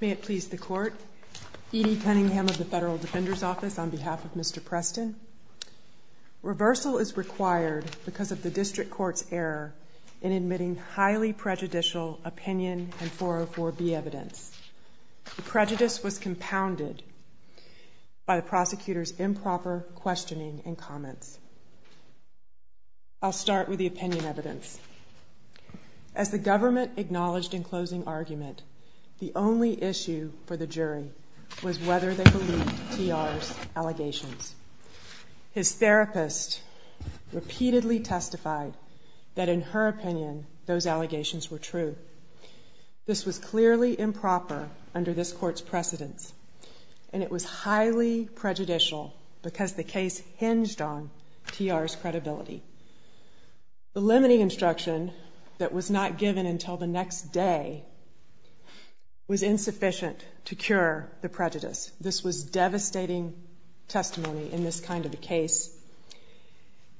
May it please the court. Edie Cunningham of the Federal Defender's Office on behalf of Mr. Preston. Reversal is required because of the district court's error in admitting highly prejudicial opinion and 404B evidence. The prejudice was compounded by the prosecutor's improper questioning and comments. I'll start with the opinion evidence. As the government acknowledged in closing argument, the only issue for the jury was whether they believed TR's allegations. His therapist repeatedly testified that in her opinion those allegations were true. This was clearly improper under this court's precedence and it was highly prejudicial because the case hinged on TR's credibility. The limiting instruction that was not given until the next day was insufficient to cure the prejudice. This was devastating testimony in this kind of a case.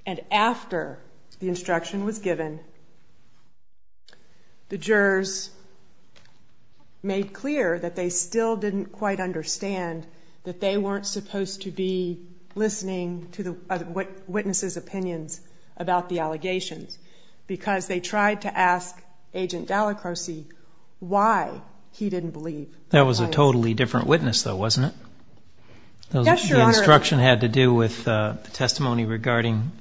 And after the instruction was given, the jurors made clear that they still didn't quite understand that they weren't supposed to be listening to the witness's opinions. That was a totally different witness, though, wasn't it? The instruction had to do with the testimony regarding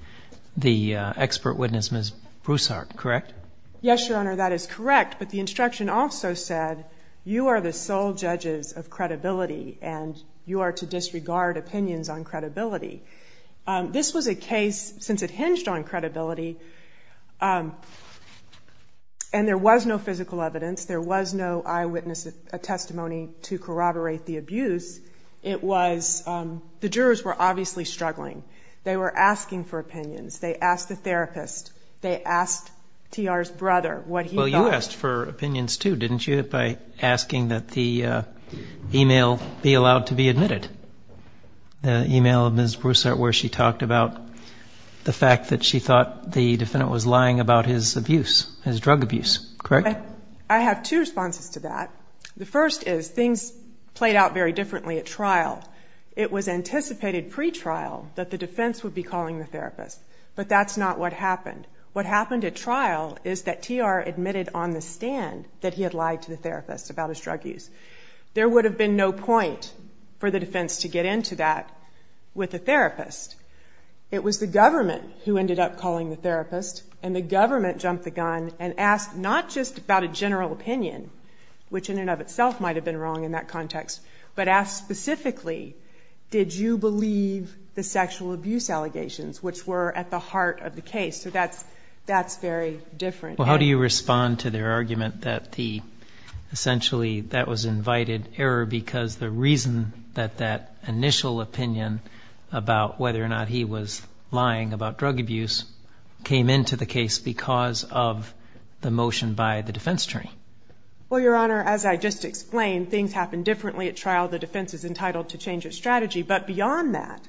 the expert witness, Ms. Broussard, correct? Yes, Your Honor, that is correct, but the instruction also said you are the sole judges of credibility and you are to disregard opinions on credibility. This was a case, since it hinged on credibility, and there was no physical evidence, there was no eyewitness testimony to corroborate the abuse, it was, the jurors were obviously struggling. They were asking for opinions. They asked the therapist. They asked TR's brother what he thought. didn't you, by asking that the e-mail be allowed to be admitted? The e-mail of Ms. Broussard where she talked about the fact that she thought the defendant was lying about his abuse, his drug abuse, correct? I have two responses to that. The first is things played out very differently at trial. It was anticipated pre-trial that the defense would be calling the therapist, but that's not what happened. What happened at trial is that TR admitted on the stand that he had lied to the therapist about his drug use. There would have been no point for the defense to get into that with the therapist. It was the government who ended up calling the therapist, and the government jumped the gun and asked not just about a general opinion, which in and of itself might have been wrong in that context, but asked specifically, did you believe the sexual abuse allegations, which were at the heart of the case? So that's very different. Well, how do you respond to their argument that essentially that was an invited error because the reason that that initial opinion about whether or not he was lying about drug abuse came into the case because of the motion by the defense attorney? Well, Your Honor, as I just explained, things happened differently at trial. The defense is entitled to change its strategy, but beyond that,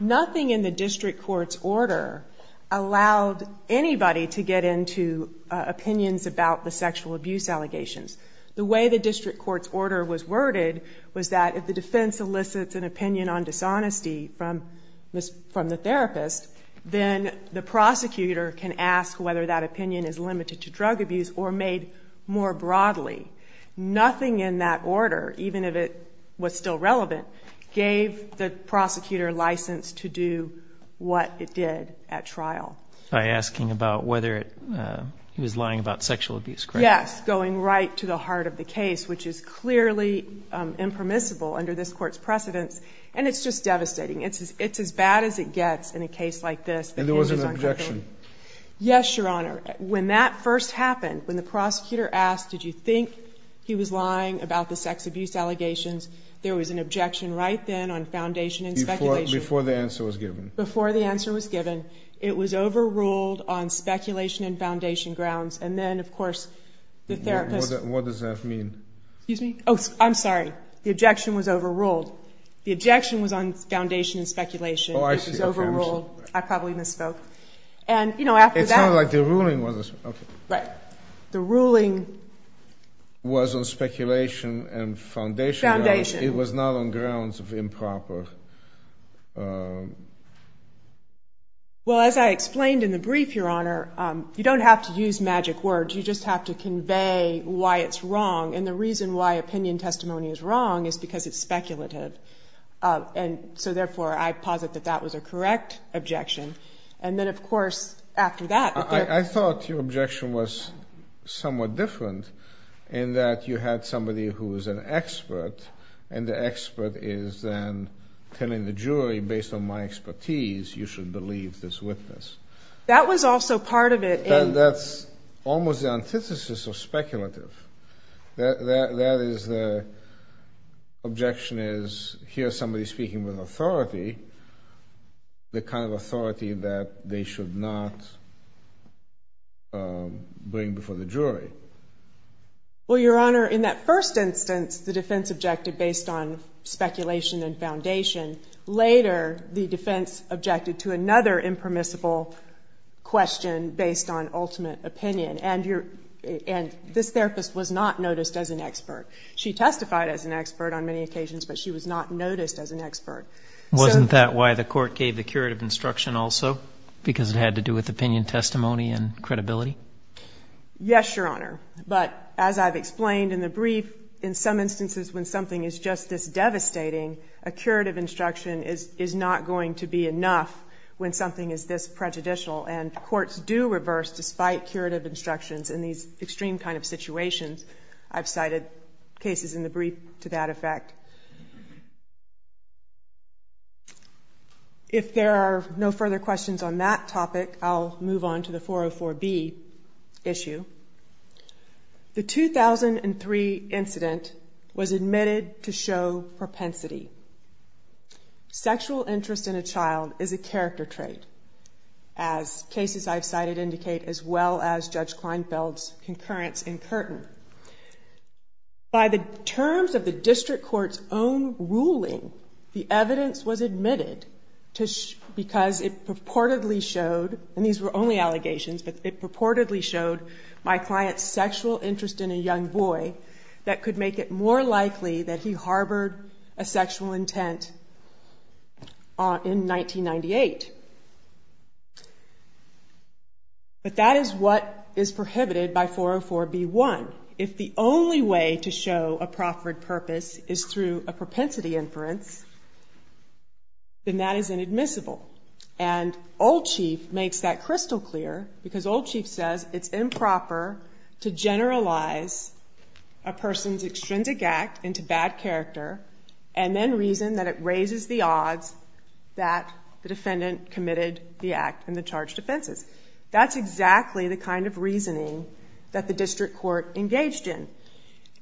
nothing in the district court's order allowed anybody to get into opinions about the sexual abuse allegations. The way the district court's order was worded was that if the defense elicits an opinion on dishonesty from the therapist, then the prosecutor can ask whether that opinion is limited to drug abuse or made more broadly. Nothing in that order, even if it was still relevant, gave the prosecutor license to do what it did at trial. By asking about whether he was lying about sexual abuse, correct? Yes, going right to the heart of the case, which is clearly impermissible under this court's precedence, and it's just devastating. It's as bad as it gets in a case like this. And there was an objection? Yes, Your Honor. When that first happened, when the prosecutor asked, did you think he was lying about the sex abuse allegations, there was an objection right then on foundation and speculation. Before the answer was given. Before the answer was given, it was overruled on speculation and foundation grounds, and then, of course, the therapist... What does that mean? Excuse me? Oh, I'm sorry. The objection was overruled. The objection was on foundation and speculation. Oh, I see. It was overruled. I probably misspoke. And, you know, after that... It sounds like the ruling was... Okay. The ruling... Was on speculation and foundation grounds. Foundation. It was not on grounds of improper... Well, as I explained in the brief, Your Honor, you don't have to use magic words. You just have to convey why it's wrong. And the reason why opinion testimony is wrong is because it's speculative. And so, therefore, I posit that that was a correct objection. And then, of course, after that... I thought your objection was somewhat different in that you had somebody who was an expert, and the expert is then telling the jury, based on my expertise, you should believe this witness. That was also part of it in... That's almost the antithesis of speculative. That is the... Objection is, here's somebody speaking with authority, the kind of authority that they should not bring before the jury. Well, Your Honor, in that first instance, the defense objected based on speculation and foundation. Later, the defense objected to another impermissible question based on ultimate opinion. And this therapist was not noticed as an expert. She testified as an expert on many occasions, but she was not noticed as an expert. Wasn't that why the court gave the curative instruction also? Because it had to do with opinion testimony and credibility? Yes, Your Honor. But, as I've explained in the brief, in some instances when something is just this devastating, a curative instruction is not going to be enough when something is this prejudicial. And courts do reverse despite curative instructions in these extreme kind of situations. I've cited cases in the brief to that effect. If there are no further questions on that topic, I'll move on to the 404B issue. The 2003 incident was admitted to show propensity. Sexual interest in a child is a character trait, as cases I've cited indicate, as well as Judge Kleinfeld's concurrence in Curtin. By the terms of the district court's own ruling, the evidence was admitted because it purportedly showed, and these were only allegations, but it purportedly showed my client's sexual interest in a young boy that could make it more likely that he harbored a sexual intent in 1998. But that is what is prohibited by 404B1. If the only way to show a proffered purpose is through a propensity inference, then that is inadmissible. And Old Chief makes that crystal clear, because Old Chief says it's improper to generalize a person's extrinsic act into bad character and then reason that it raises the odds that the defendant committed the act and the charged offenses. That's exactly the kind of reasoning that the district court engaged in.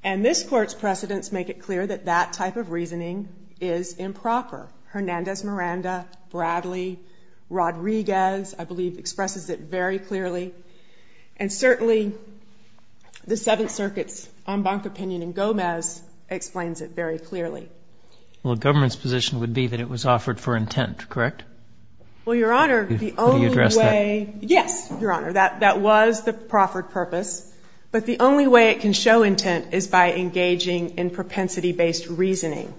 And this court's precedents make it clear that that type of reasoning is improper. Hernandez-Miranda, Bradley, Rodriguez, I believe, expresses it very clearly. And certainly the Seventh Circuit's en banc opinion in Gomez explains it very clearly. Well, the government's position would be that it was offered for intent, correct? Well, Your Honor, the only way... Will you address that? Yes, Your Honor. That was the proffered purpose. But the only way it can show intent is by engaging in propensity-based reasoning.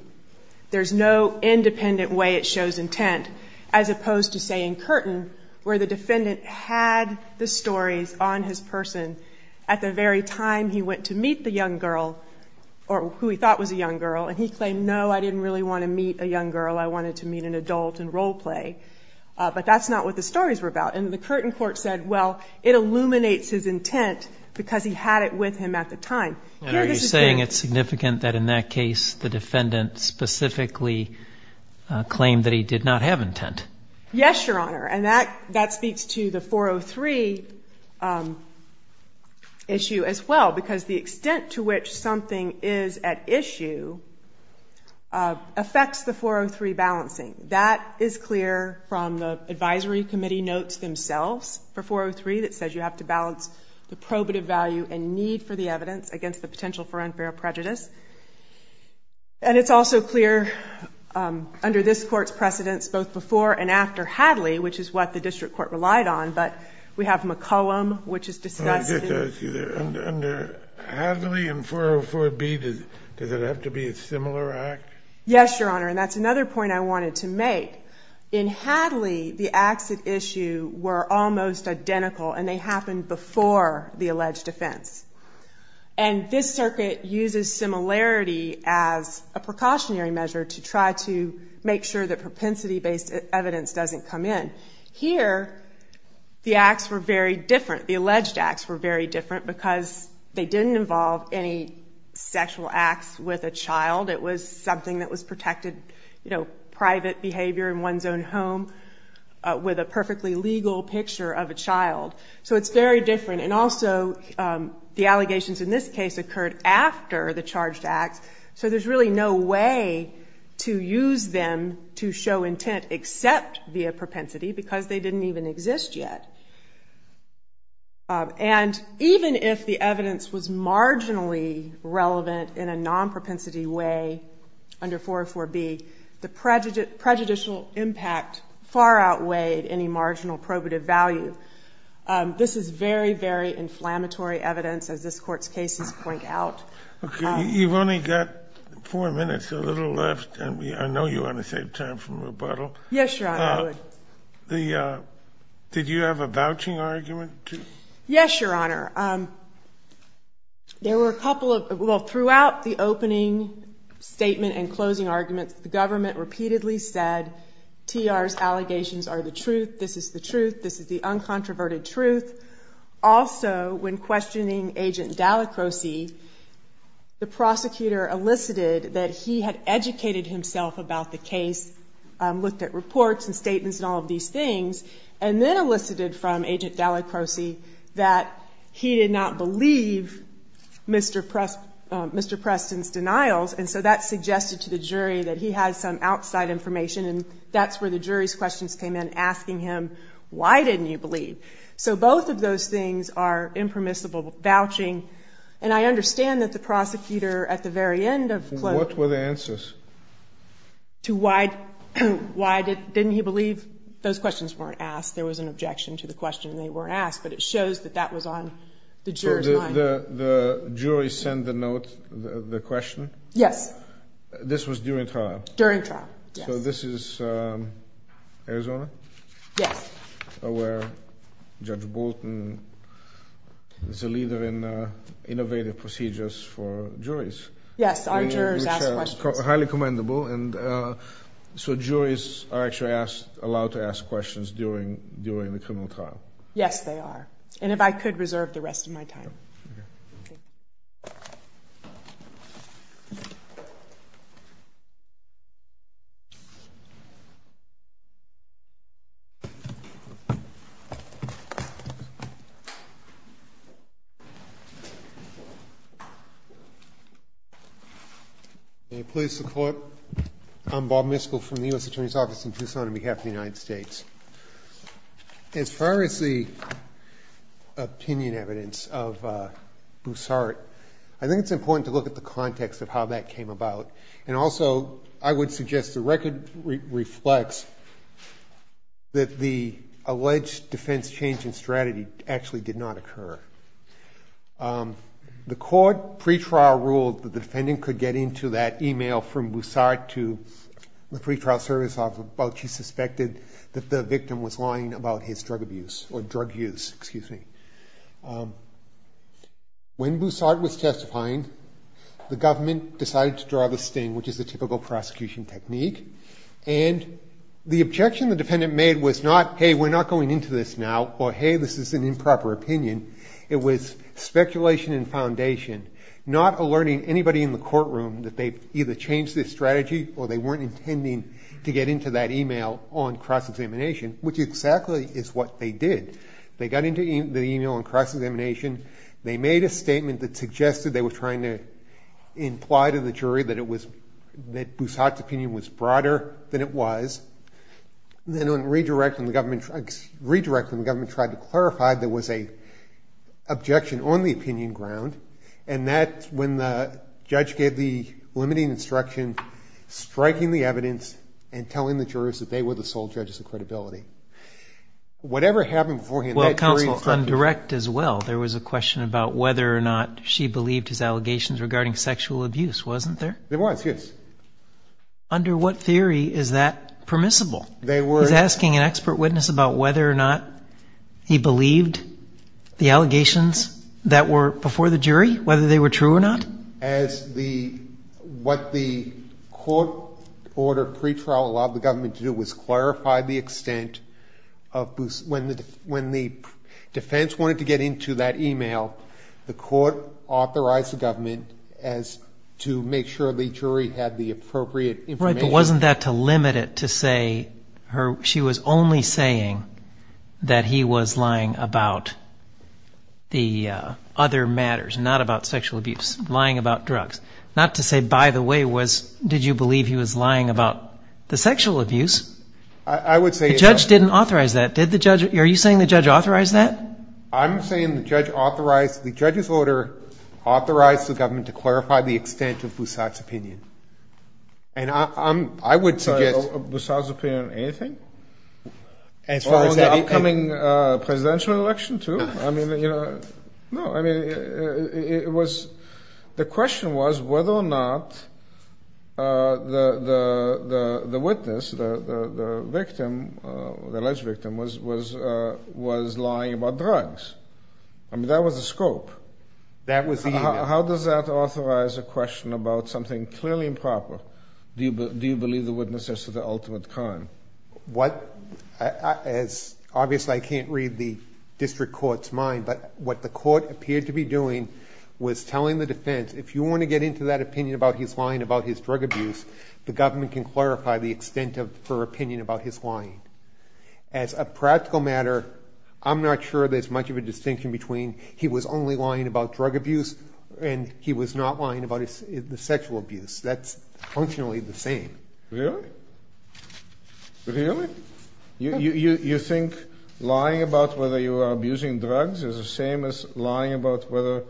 There's no independent way it shows intent, as opposed to, say, in Curtin, where the defendant had the stories on his person at the very time he went to meet the young girl, or who he thought was a young girl, and he claimed, no, I didn't really want to meet a young girl. I wanted to meet an adult and role play. But that's not what the stories were about. And the Curtin court said, well, it illuminates his intent, because he had it with him at the time. And are you saying it's significant that in that case the defendant specifically claimed that he did not have intent? Yes, Your Honor. And that speaks to the 403 issue as well. Because the extent to which something is at issue affects the 403 balancing. That is clear from the advisory committee notes themselves for 403 that says you have to balance the probative value and need for the evidence against the potential for unfair prejudice. And it's also clear under this Court's precedence both before and after Hadley, which is what the district court relied on, but we have McCollum, which is discussed. Under Hadley and 404B, does it have to be a similar act? Yes, Your Honor. And that's another point I wanted to make. In Hadley, the acts at issue were almost identical, and they happened before the alleged offense. And this circuit uses similarity as a precautionary measure to try to make sure that propensity-based evidence doesn't come in. Here, the acts were very different, the alleged acts were very different, because they didn't involve any sexual acts with a child. It was something that was protected, you know, private behavior in one's own home with a perfectly legal picture of a child. So it's very different. And also, the allegations in this case occurred after the charged acts, so there's really no way to use them to show intent except via propensity, because they didn't even exist yet. And even if the evidence was marginally relevant in a non-propensity way under 404B, the prejudicial impact far outweighed any marginal probative value. This is very, very inflammatory evidence, as this Court's cases point out. Okay. You've only got four minutes, a little left, and I know you want to save time for rebuttal. Yes, Your Honor, I would. Did you have a vouching argument? Yes, Your Honor. There were a couple of, well, throughout the opening statement and closing argument, the government repeatedly said TR's allegations are the truth, this is the truth, this is the uncontroverted truth. Also, when questioning Agent Dallacroce, the prosecutor elicited that he had educated himself about the case, looked at reports and statements and all of these things, and then elicited from Agent Dallacroce that he did not believe Mr. Preston's denials, and so that suggested to the jury that he had some outside information, and that's where the jury's questions came in, asking him, why didn't you believe? So both of those things are impermissible vouching, and I understand that the prosecutor, at the very end of closing argument... What were the answers? To why didn't he believe those questions weren't asked, there was an objection to the question and they weren't asked, but it shows that that was on the juror's mind. So the jury sent the note, the question? Yes. This was during trial? During trial, yes. So this is Arizona? Yes. Where Judge Bolton is a leader in innovative procedures for juries? Yes, our jurors ask questions. Highly commendable, and so juries are actually allowed to ask questions during the criminal trial? Yes, they are, and if I could reserve the rest of my time. Okay. Can you please support? I'm Bob Miskell from the U.S. Attorney's Office in Tucson on behalf of the United States. As far as the opinion evidence of Boussart, I think it's important to look at the context of how that came about, and also I would suggest the record reflects that the alleged defense change in strategy actually did not occur. The court pretrial ruled that the defendant could get into that e-mail from Boussart to the pretrial service office, but she suspected that the victim was lying about his drug abuse, or drug use, excuse me. When Boussart was testifying, the government decided to draw the sting, which is the typical prosecution technique, and the objection the defendant made was not, hey, we're not going into this now, or hey, this is an improper opinion. It was speculation and foundation, not alerting anybody in the courtroom that they either changed their strategy or they weren't intending to get into that e-mail on cross-examination, which exactly is what they did. They got into the e-mail on cross-examination. They made a statement that suggested they were trying to imply to the jury that Boussart's opinion was broader than it was. Then on redirecting, the government tried to clarify there was an objection on the opinion ground, and that's when the judge gave the limiting instruction, striking the evidence, and telling the jurors that they were the sole judges of credibility. Whatever happened beforehand, that jury's objective. Well, counsel, on direct as well, there was a question about whether or not she believed his allegations regarding sexual abuse, wasn't there? There was, yes. Under what theory is that permissible? They were. He's asking an expert witness about whether or not he believed the allegations that were before the jury, whether they were true or not? What the court ordered pretrial allowed the government to do was clarify the extent of Boussart. When the defense wanted to get into that e-mail, the court authorized the government to make sure the jury had the appropriate information. Right, but wasn't that to limit it to say she was only saying that he was lying about the other matters, not about sexual abuse? Lying about drugs. Not to say, by the way, was, did you believe he was lying about the sexual abuse? I would say it was. The judge didn't authorize that. Did the judge, are you saying the judge authorized that? I'm saying the judge authorized, the judge's order authorized the government to clarify the extent of Boussart's opinion. And I'm, I would suggest. Boussart's opinion on anything? As far as anything. The upcoming presidential election, too? I mean, you know, no, I mean, it was, the question was whether or not the witness, the victim, the alleged victim, was lying about drugs. I mean, that was the scope. That was the e-mail. How does that authorize a question about something clearly improper? Do you believe the witness is to the ultimate crime? What, as, obviously I can't read the district court's mind, but what the court appeared to be doing was telling the defense, if you want to get into that opinion about his lying about his drug abuse, the government can clarify the extent of her opinion about his lying. As a practical matter, I'm not sure there's much of a distinction between he was only lying about drug abuse and he was not lying about the sexual abuse. That's functionally the same. Really? Really? You think lying about whether you are abusing drugs is the same as lying about whether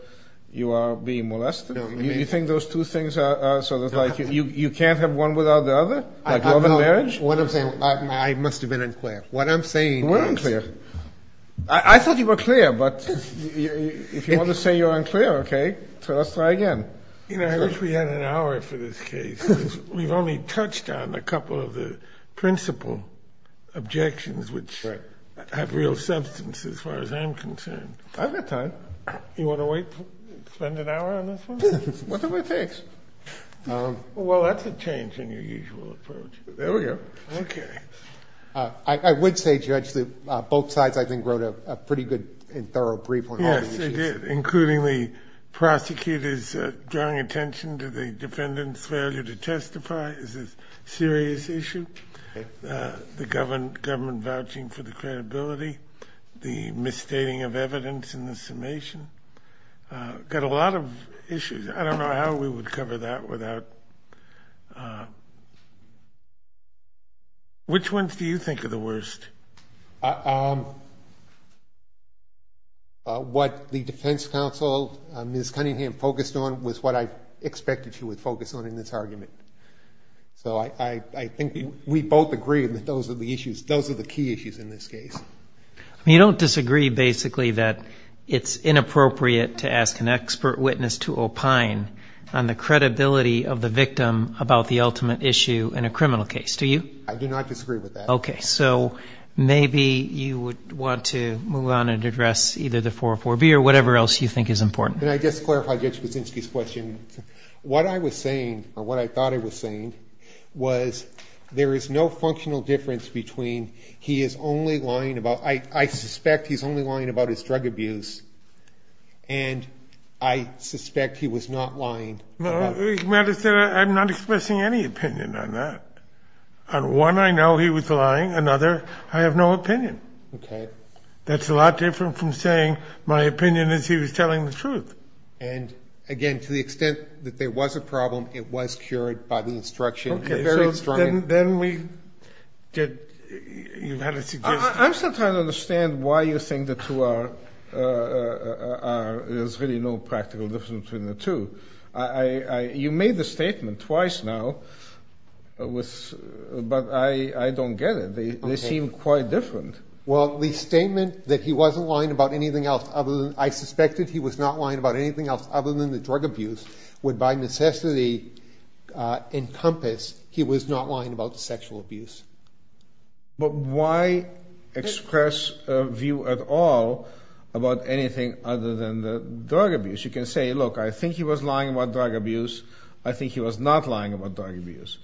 you are being molested? You think those two things are sort of like, you can't have one without the other? Like love and marriage? I must have been unclear. What I'm saying is... We're unclear. I thought you were clear, but if you want to say you're unclear, okay, let's try again. You know, I wish we had an hour for this case. We've only touched on a couple of the principal objections, which have real substance as far as I'm concerned. I've got time. You want to wait, spend an hour on this one? Whatever it takes. Well, that's a change in your usual approach. There we go. Okay. I would say, Judge, that both sides, I think, wrote a pretty good and thorough brief on all the issues. Including the prosecutor's drawing attention to the defendant's failure to testify. This is a serious issue. The government vouching for the credibility. The misstating of evidence in the summation. Got a lot of issues. I don't know how we would cover that without... Which ones do you think are the worst? What the defense counsel, Ms. Cunningham, focused on was what I expected she would focus on in this argument. So I think we both agree that those are the issues. Those are the key issues in this case. You don't disagree, basically, that it's inappropriate to ask an expert witness to opine on the credibility of the victim about the ultimate issue in a criminal case, do you? I do not disagree with that. Okay. So maybe you would want to move on and address either the 404B or whatever else you think is important. Can I just clarify Judge Kuczynski's question? What I was saying, or what I thought I was saying, was there is no functional difference between he is only lying about... I suspect he's only lying about his drug abuse. And I suspect he was not lying about... I'm not expressing any opinion on that. On one, I know he was lying. Another, I have no opinion. Okay. That's a lot different from saying my opinion is he was telling the truth. And, again, to the extent that there was a problem, it was cured by the instruction. Okay, so then we... I'm still trying to understand why you think the two are... There's really no practical difference between the two. You made the statement twice now, but I don't get it. They seem quite different. Well, the statement that he wasn't lying about anything else other than... I suspected he was not lying about anything else other than the drug abuse, would by necessity encompass he was not lying about the sexual abuse. But why express a view at all about anything other than the drug abuse? You can say, look, I think he was lying about drug abuse. I think he was not lying about drug abuse.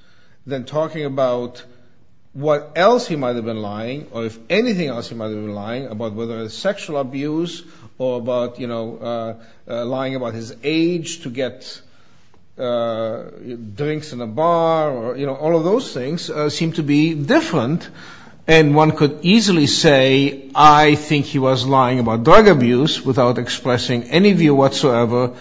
Then talking about what else he might have been lying, or if anything else he might have been lying about whether it's sexual abuse or about lying about his age to get drinks in a bar, all of those things seem to be different. And one could easily say, I think he was lying about drug abuse without expressing any view whatsoever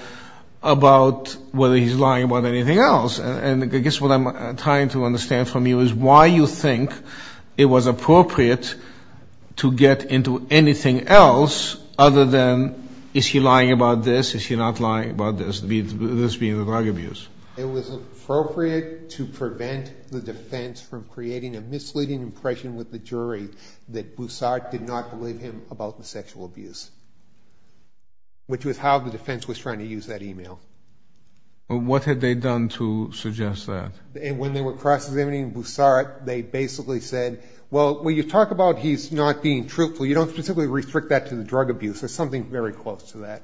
about whether he's lying about anything else. And I guess what I'm trying to understand from you is why you think it was appropriate to get into anything else other than is he lying about this, is he not lying about this, this being the drug abuse. It was appropriate to prevent the defense from creating a misleading impression with the jury that Boussart did not believe him about the sexual abuse, which was how the defense was trying to use that email. What had they done to suggest that? When they were cross-examining Boussart, they basically said, well, when you talk about he's not being truthful, you don't specifically restrict that to the drug abuse. There's something very close to that.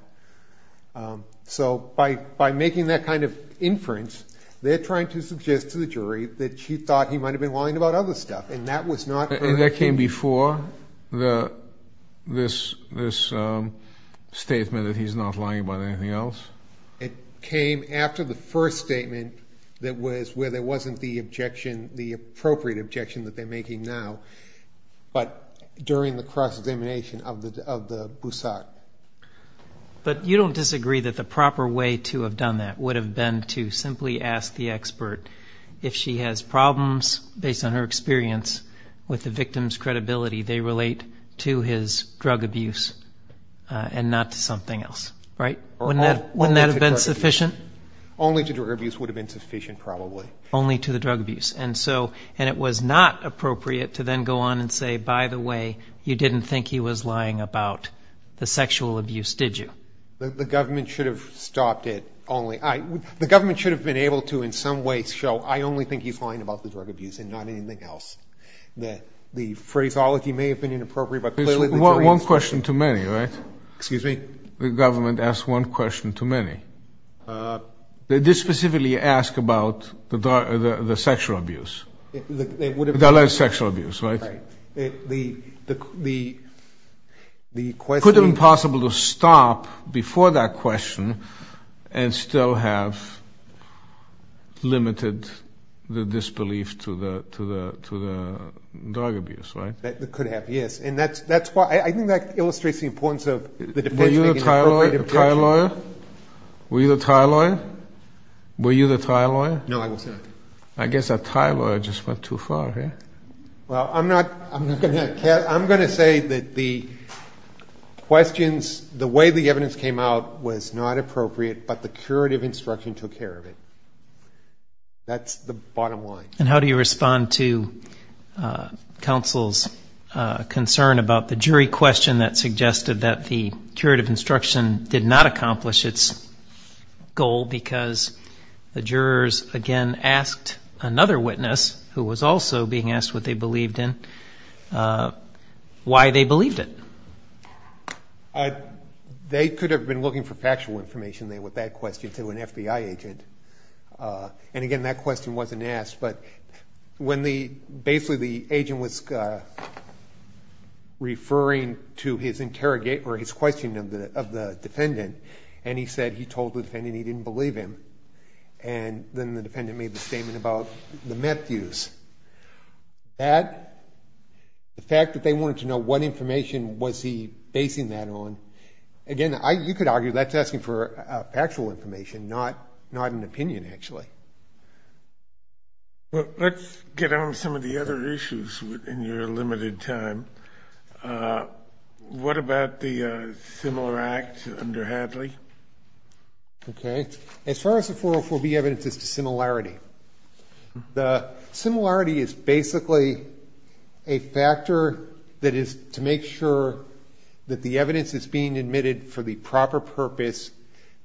So by making that kind of inference, they're trying to suggest to the jury that she thought he might have been lying about other stuff, and that came before this statement that he's not lying about anything else. It came after the first statement where there wasn't the objection, the appropriate objection that they're making now, but during the cross-examination of Boussart. But you don't disagree that the proper way to have done that would have been to simply ask the expert if she has problems, based on her experience with the victim's credibility, they relate to his drug abuse and not to something else, right? Wouldn't that have been sufficient? Only to drug abuse would have been sufficient, probably. Only to the drug abuse. And it was not appropriate to then go on and say, by the way, you didn't think he was lying about the sexual abuse, did you? The government should have stopped it only. The government should have been able to in some ways show, I only think he's lying about the drug abuse and not anything else. The phraseology may have been inappropriate, but clearly the jury is. One question too many, right? Excuse me? The government asked one question too many. They did specifically ask about the sexual abuse. The alleged sexual abuse, right? Right. It could have been possible to stop before that question and still have limited the disbelief to the drug abuse, right? It could have, yes. I think that illustrates the importance of the defense making an appropriate objection. Were you the Thai lawyer? No, I was not. I guess that Thai lawyer just went too far, right? Well, I'm going to say that the questions, the way the evidence came out was not appropriate, but the curative instruction took care of it. That's the bottom line. And how do you respond to counsel's concern about the jury question that suggested that the curative instruction did not accomplish its goal because the jurors, again, asked another witness, who was also being asked what they believed in, why they believed it? They could have been looking for factual information there with that question to an FBI agent. And, again, that question wasn't asked. But basically the agent was referring to his interrogation or his questioning of the defendant, and he said he told the defendant he didn't believe him. And then the defendant made the statement about the Matthews. That, the fact that they wanted to know what information was he basing that on, again, you could argue that's asking for factual information, not an opinion, actually. Let's get on some of the other issues in your limited time. What about the similar act under Hadley? Okay. As far as the 404B evidence, it's a similarity. The similarity is basically a factor that is to make sure that the evidence is being admitted for the proper purpose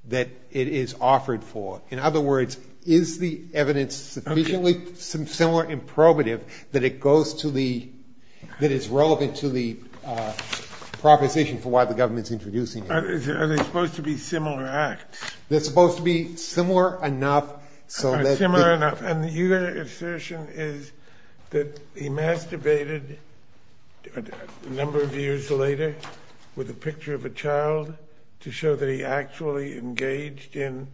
that it is offered for. In other words, is the evidence sufficiently similar in probative that it goes to the ‑‑ that it's relevant to the proposition for why the government's introducing it? Are they supposed to be similar acts? They're supposed to be similar enough so that ‑‑ Similar enough. And your assertion is that he masturbated a number of years later with a picture of a child to show that he actually engaged in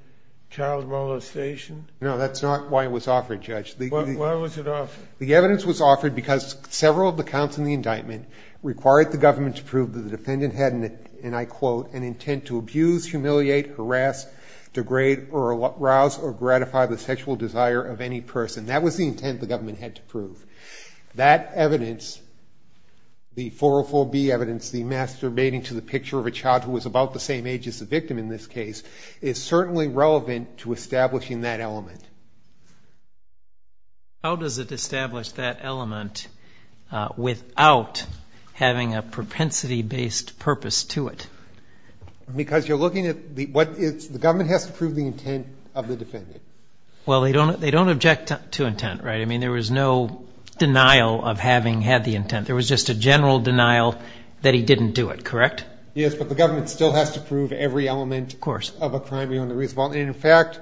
child molestation? No, that's not why it was offered, Judge. Why was it offered? The evidence was offered because several of the counts in the indictment required the government to prove that the defendant had, and I quote, an intent to abuse, humiliate, harass, degrade or arouse or gratify the sexual desire of any person. That was the intent the government had to prove. That evidence, the 404B evidence, the masturbating to the picture of a child who was about the same age as the victim in this case, is certainly relevant to establishing that element. How does it establish that element without having a propensity‑based purpose to it? Because you're looking at the ‑‑ the government has to prove the intent of the defendant. Well, they don't object to intent, right? I mean, there was no denial of having had the intent. There was just a general denial that he didn't do it, correct? Yes, but the government still has to prove every element of a crime beyond the reasonable. Of course. Well, in fact,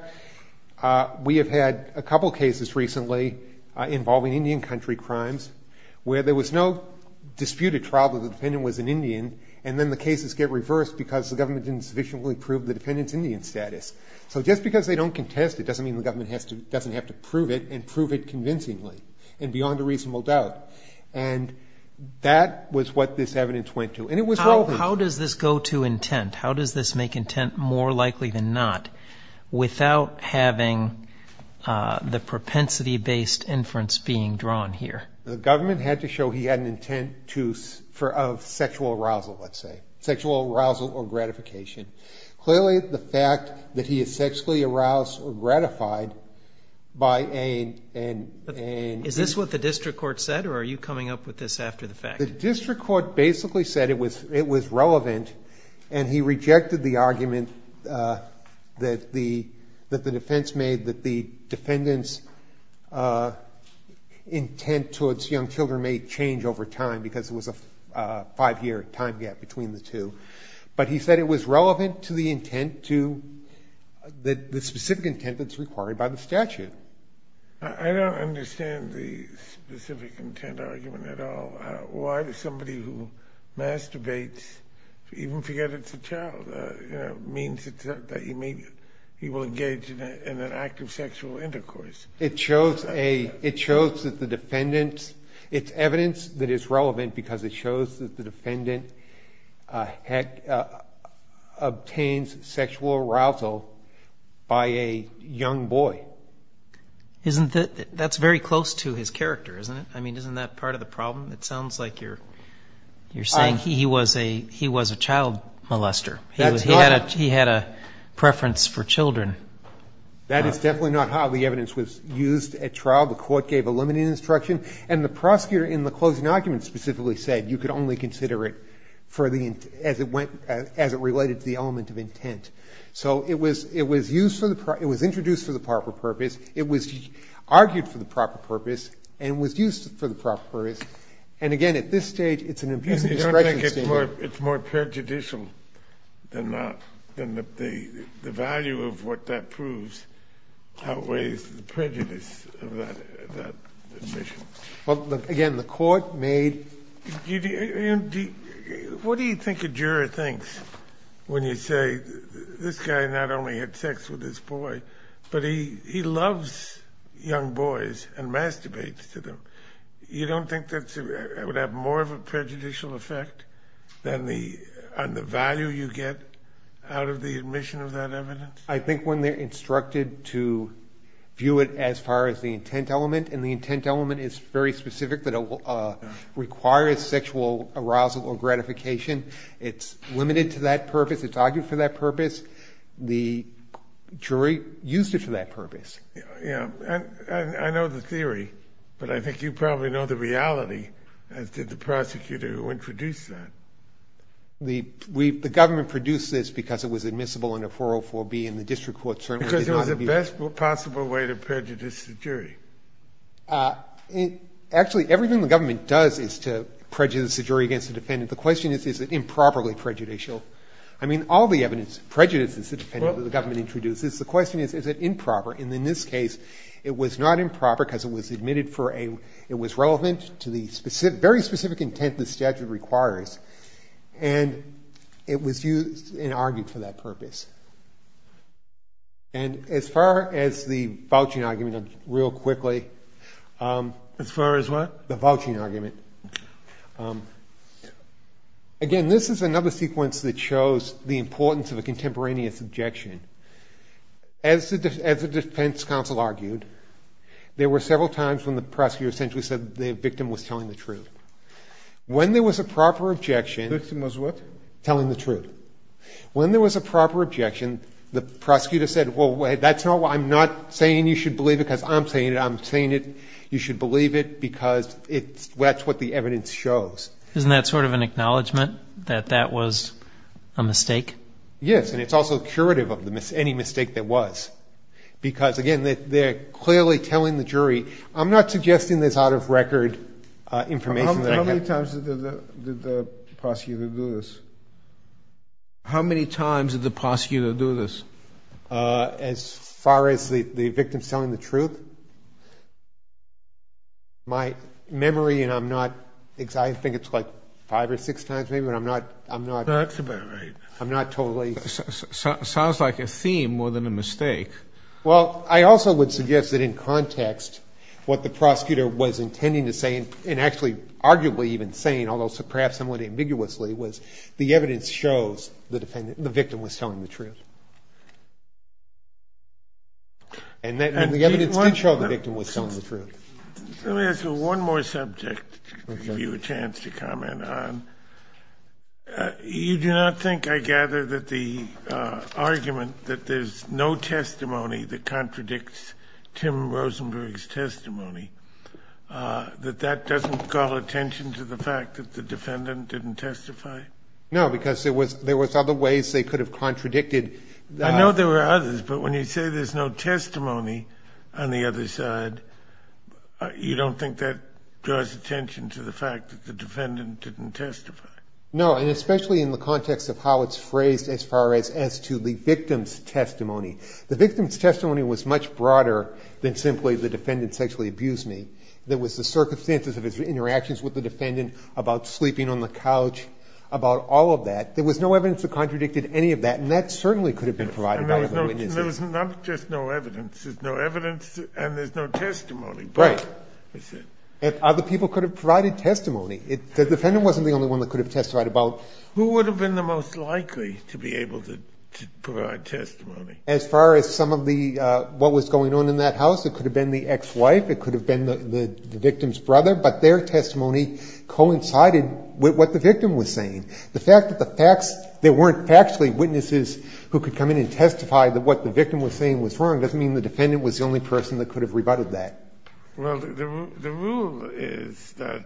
we have had a couple cases recently involving Indian country crimes where there was no disputed trial that the defendant was an Indian, and then the cases get reversed because the government didn't sufficiently prove the defendant's Indian status. So just because they don't contest it doesn't mean the government doesn't have to prove it and prove it convincingly and beyond a reasonable doubt. And that was what this evidence went to, and it was relevant. How does this go to intent? How does this make intent more likely than not without having the propensity‑based inference being drawn here? The government had to show he had an intent to ‑‑ of sexual arousal, let's say, sexual arousal or gratification. Clearly, the fact that he is sexually aroused or gratified by a ‑‑ Is this what the district court said, or are you coming up with this after the fact? The district court basically said it was relevant, and he rejected the argument that the defense made that the defendant's intent towards young children may change over time because there was a five‑year time gap between the two. But he said it was relevant to the intent to the specific intent that's required by the statute. I don't understand the specific intent argument at all. Why would somebody who masturbates even forget it's a child? It means that he will engage in an act of sexual intercourse. It shows that the defendant ‑‑ it's evidence that it's relevant because it shows that the defendant obtains sexual arousal by a young boy. Isn't that ‑‑ that's very close to his character, isn't it? I mean, isn't that part of the problem? It sounds like you're saying he was a child molester. He had a preference for children. That is definitely not how the evidence was used at trial. The court gave a limiting instruction, and the prosecutor in the closing argument specifically said you could only consider it as it related to the element of intent. So it was used for the ‑‑ it was introduced for the proper purpose. It was argued for the proper purpose and was used for the proper purpose. And, again, at this stage, it's an abuse of discretion. You don't think it's more prejudicial than the value of what that proves outweighs the prejudice of that admission? Well, again, the court made ‑‑ What do you think a juror thinks when you say this guy not only had sex with this boy, but he loves young boys and masturbates to them? You don't think that would have more of a prejudicial effect than the value you get out of the admission of that evidence? I think when they're instructed to view it as far as the intent element, and the intent element is very specific, that it requires sexual arousal or gratification. It's argued for that purpose. The jury used it for that purpose. Yeah. I know the theory, but I think you probably know the reality, as did the prosecutor who introduced that. The government produced this because it was admissible under 404B, and the district court certainly did not view it. Because it was the best possible way to prejudice the jury. Actually, everything the government does is to prejudice the jury against the defendant. The question is, is it improperly prejudicial? I mean, all the evidence prejudices the defendant that the government introduces. The question is, is it improper? And in this case, it was not improper because it was admitted for a— it was relevant to the very specific intent the statute requires, and it was used and argued for that purpose. And as far as the vouching argument, real quickly— As far as what? The vouching argument. Again, this is another sequence that shows the importance of a contemporaneous objection. As the defense counsel argued, there were several times when the prosecutor essentially said the victim was telling the truth. When there was a proper objection— The victim was what? Telling the truth. When there was a proper objection, the prosecutor said, well, that's not—I'm not saying you should believe it because I'm saying it. You should believe it because that's what the evidence shows. Isn't that sort of an acknowledgment that that was a mistake? Yes, and it's also curative of any mistake that was. Because, again, they're clearly telling the jury— I'm not suggesting there's out-of-record information that— How many times did the prosecutor do this? How many times did the prosecutor do this? As far as the victim telling the truth, my memory, and I'm not—I think it's like five or six times maybe, but I'm not— That's about right. I'm not totally— Sounds like a theme more than a mistake. Well, I also would suggest that in context, what the prosecutor was intending to say, and actually arguably even saying, although perhaps somewhat ambiguously, was the evidence shows the victim was telling the truth. And the evidence did show the victim was telling the truth. Let me ask you one more subject to give you a chance to comment on. You do not think, I gather, that the argument that there's no testimony that contradicts Tim Rosenberg's testimony, that that doesn't call attention to the fact that the defendant didn't testify? No, because there was other ways they could have contradicted— I know there were others, but when you say there's no testimony on the other side, you don't think that draws attention to the fact that the defendant didn't testify? No, and especially in the context of how it's phrased as far as to the victim's testimony. The victim's testimony was much broader than simply the defendant sexually abused me. There was the circumstances of his interactions with the defendant, about sleeping on the couch, about all of that. There was no evidence that contradicted any of that, and that certainly could have been provided by other witnesses. And there was not just no evidence. There's no evidence, and there's no testimony. Right. Other people could have provided testimony. The defendant wasn't the only one that could have testified about— Who would have been the most likely to be able to provide testimony? As far as some of the what was going on in that house, it could have been the ex-wife. It could have been the victim's brother. But their testimony coincided with what the victim was saying. The fact that the facts – there weren't factually witnesses who could come in and testify that what the victim was saying was wrong doesn't mean the defendant was the only person that could have rebutted that. Well, the rule is that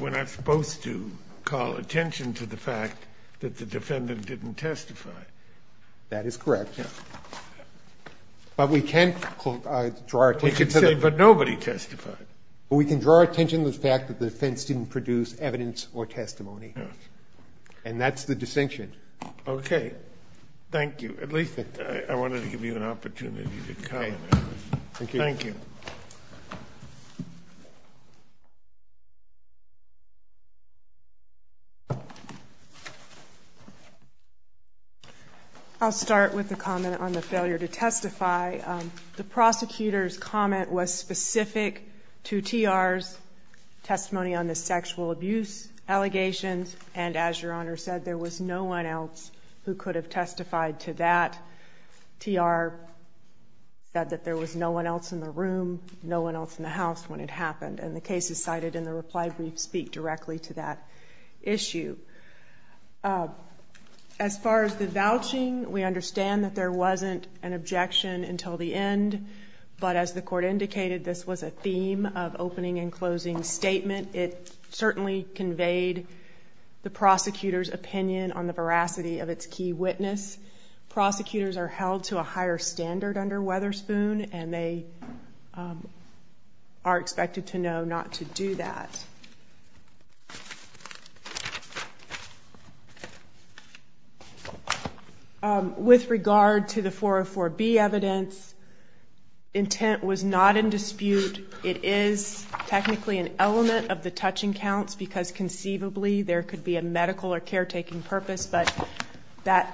we're not supposed to call attention to the fact that the defendant didn't testify. That is correct. Yes. But we can't draw our attention to the— We can say, but nobody testified. We can draw our attention to the fact that the defense didn't produce evidence or testimony. Yes. And that's the distinction. Okay. Thank you. At least I wanted to give you an opportunity to comment. Thank you. Thank you. I'll start with a comment on the failure to testify. The prosecutor's comment was specific to TR's testimony on the sexual abuse allegations. And as Your Honor said, there was no one else who could have testified to that. TR said that there was no one else in the room, no one else in the house when it happened. And the case is cited in the reply brief speak directly to that issue. As far as the vouching, we understand that there wasn't an objection until the end. But as the Court indicated, this was a theme of opening and closing statement. It certainly conveyed the prosecutor's opinion on the veracity of its key witness. Prosecutors are held to a higher standard under Weatherspoon, and they are expected to know not to do that. With regard to the 404B evidence, intent was not in dispute. It is technically an element of the touching counts because conceivably there could be a medical or caretaking purpose. But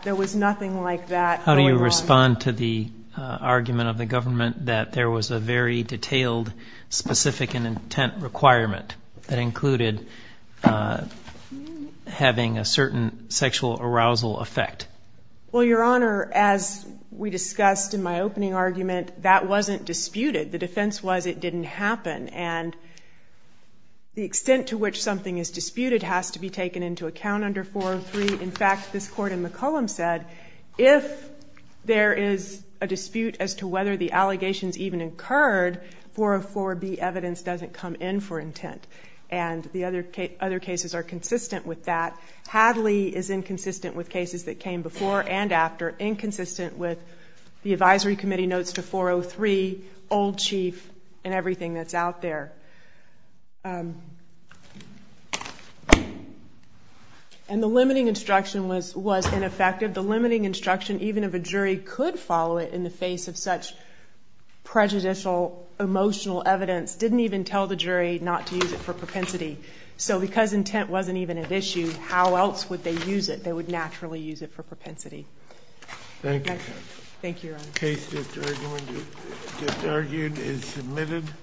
there was nothing like that going on. How do you respond to the argument of the government that there was a very detailed specific intent requirement that included having a certain sexual arousal effect? Well, Your Honor, as we discussed in my opening argument, that wasn't disputed. The defense was it didn't happen. And the extent to which something is disputed has to be taken into account under 403. In fact, this Court in McCollum said if there is a dispute as to whether the allegations even occurred, 404B evidence doesn't come in for intent. And the other cases are consistent with that. Hadley is inconsistent with cases that came before and after, inconsistent with the advisory committee notes to 403, old chief, and everything that's out there. And the limiting instruction was ineffective. The limiting instruction, even if a jury could follow it in the face of such prejudicial emotional evidence, didn't even tell the jury not to use it for propensity. So because intent wasn't even at issue, how else would they use it? They would naturally use it for propensity. Thank you, counsel. Thank you, Your Honor. The case just argued is submitted.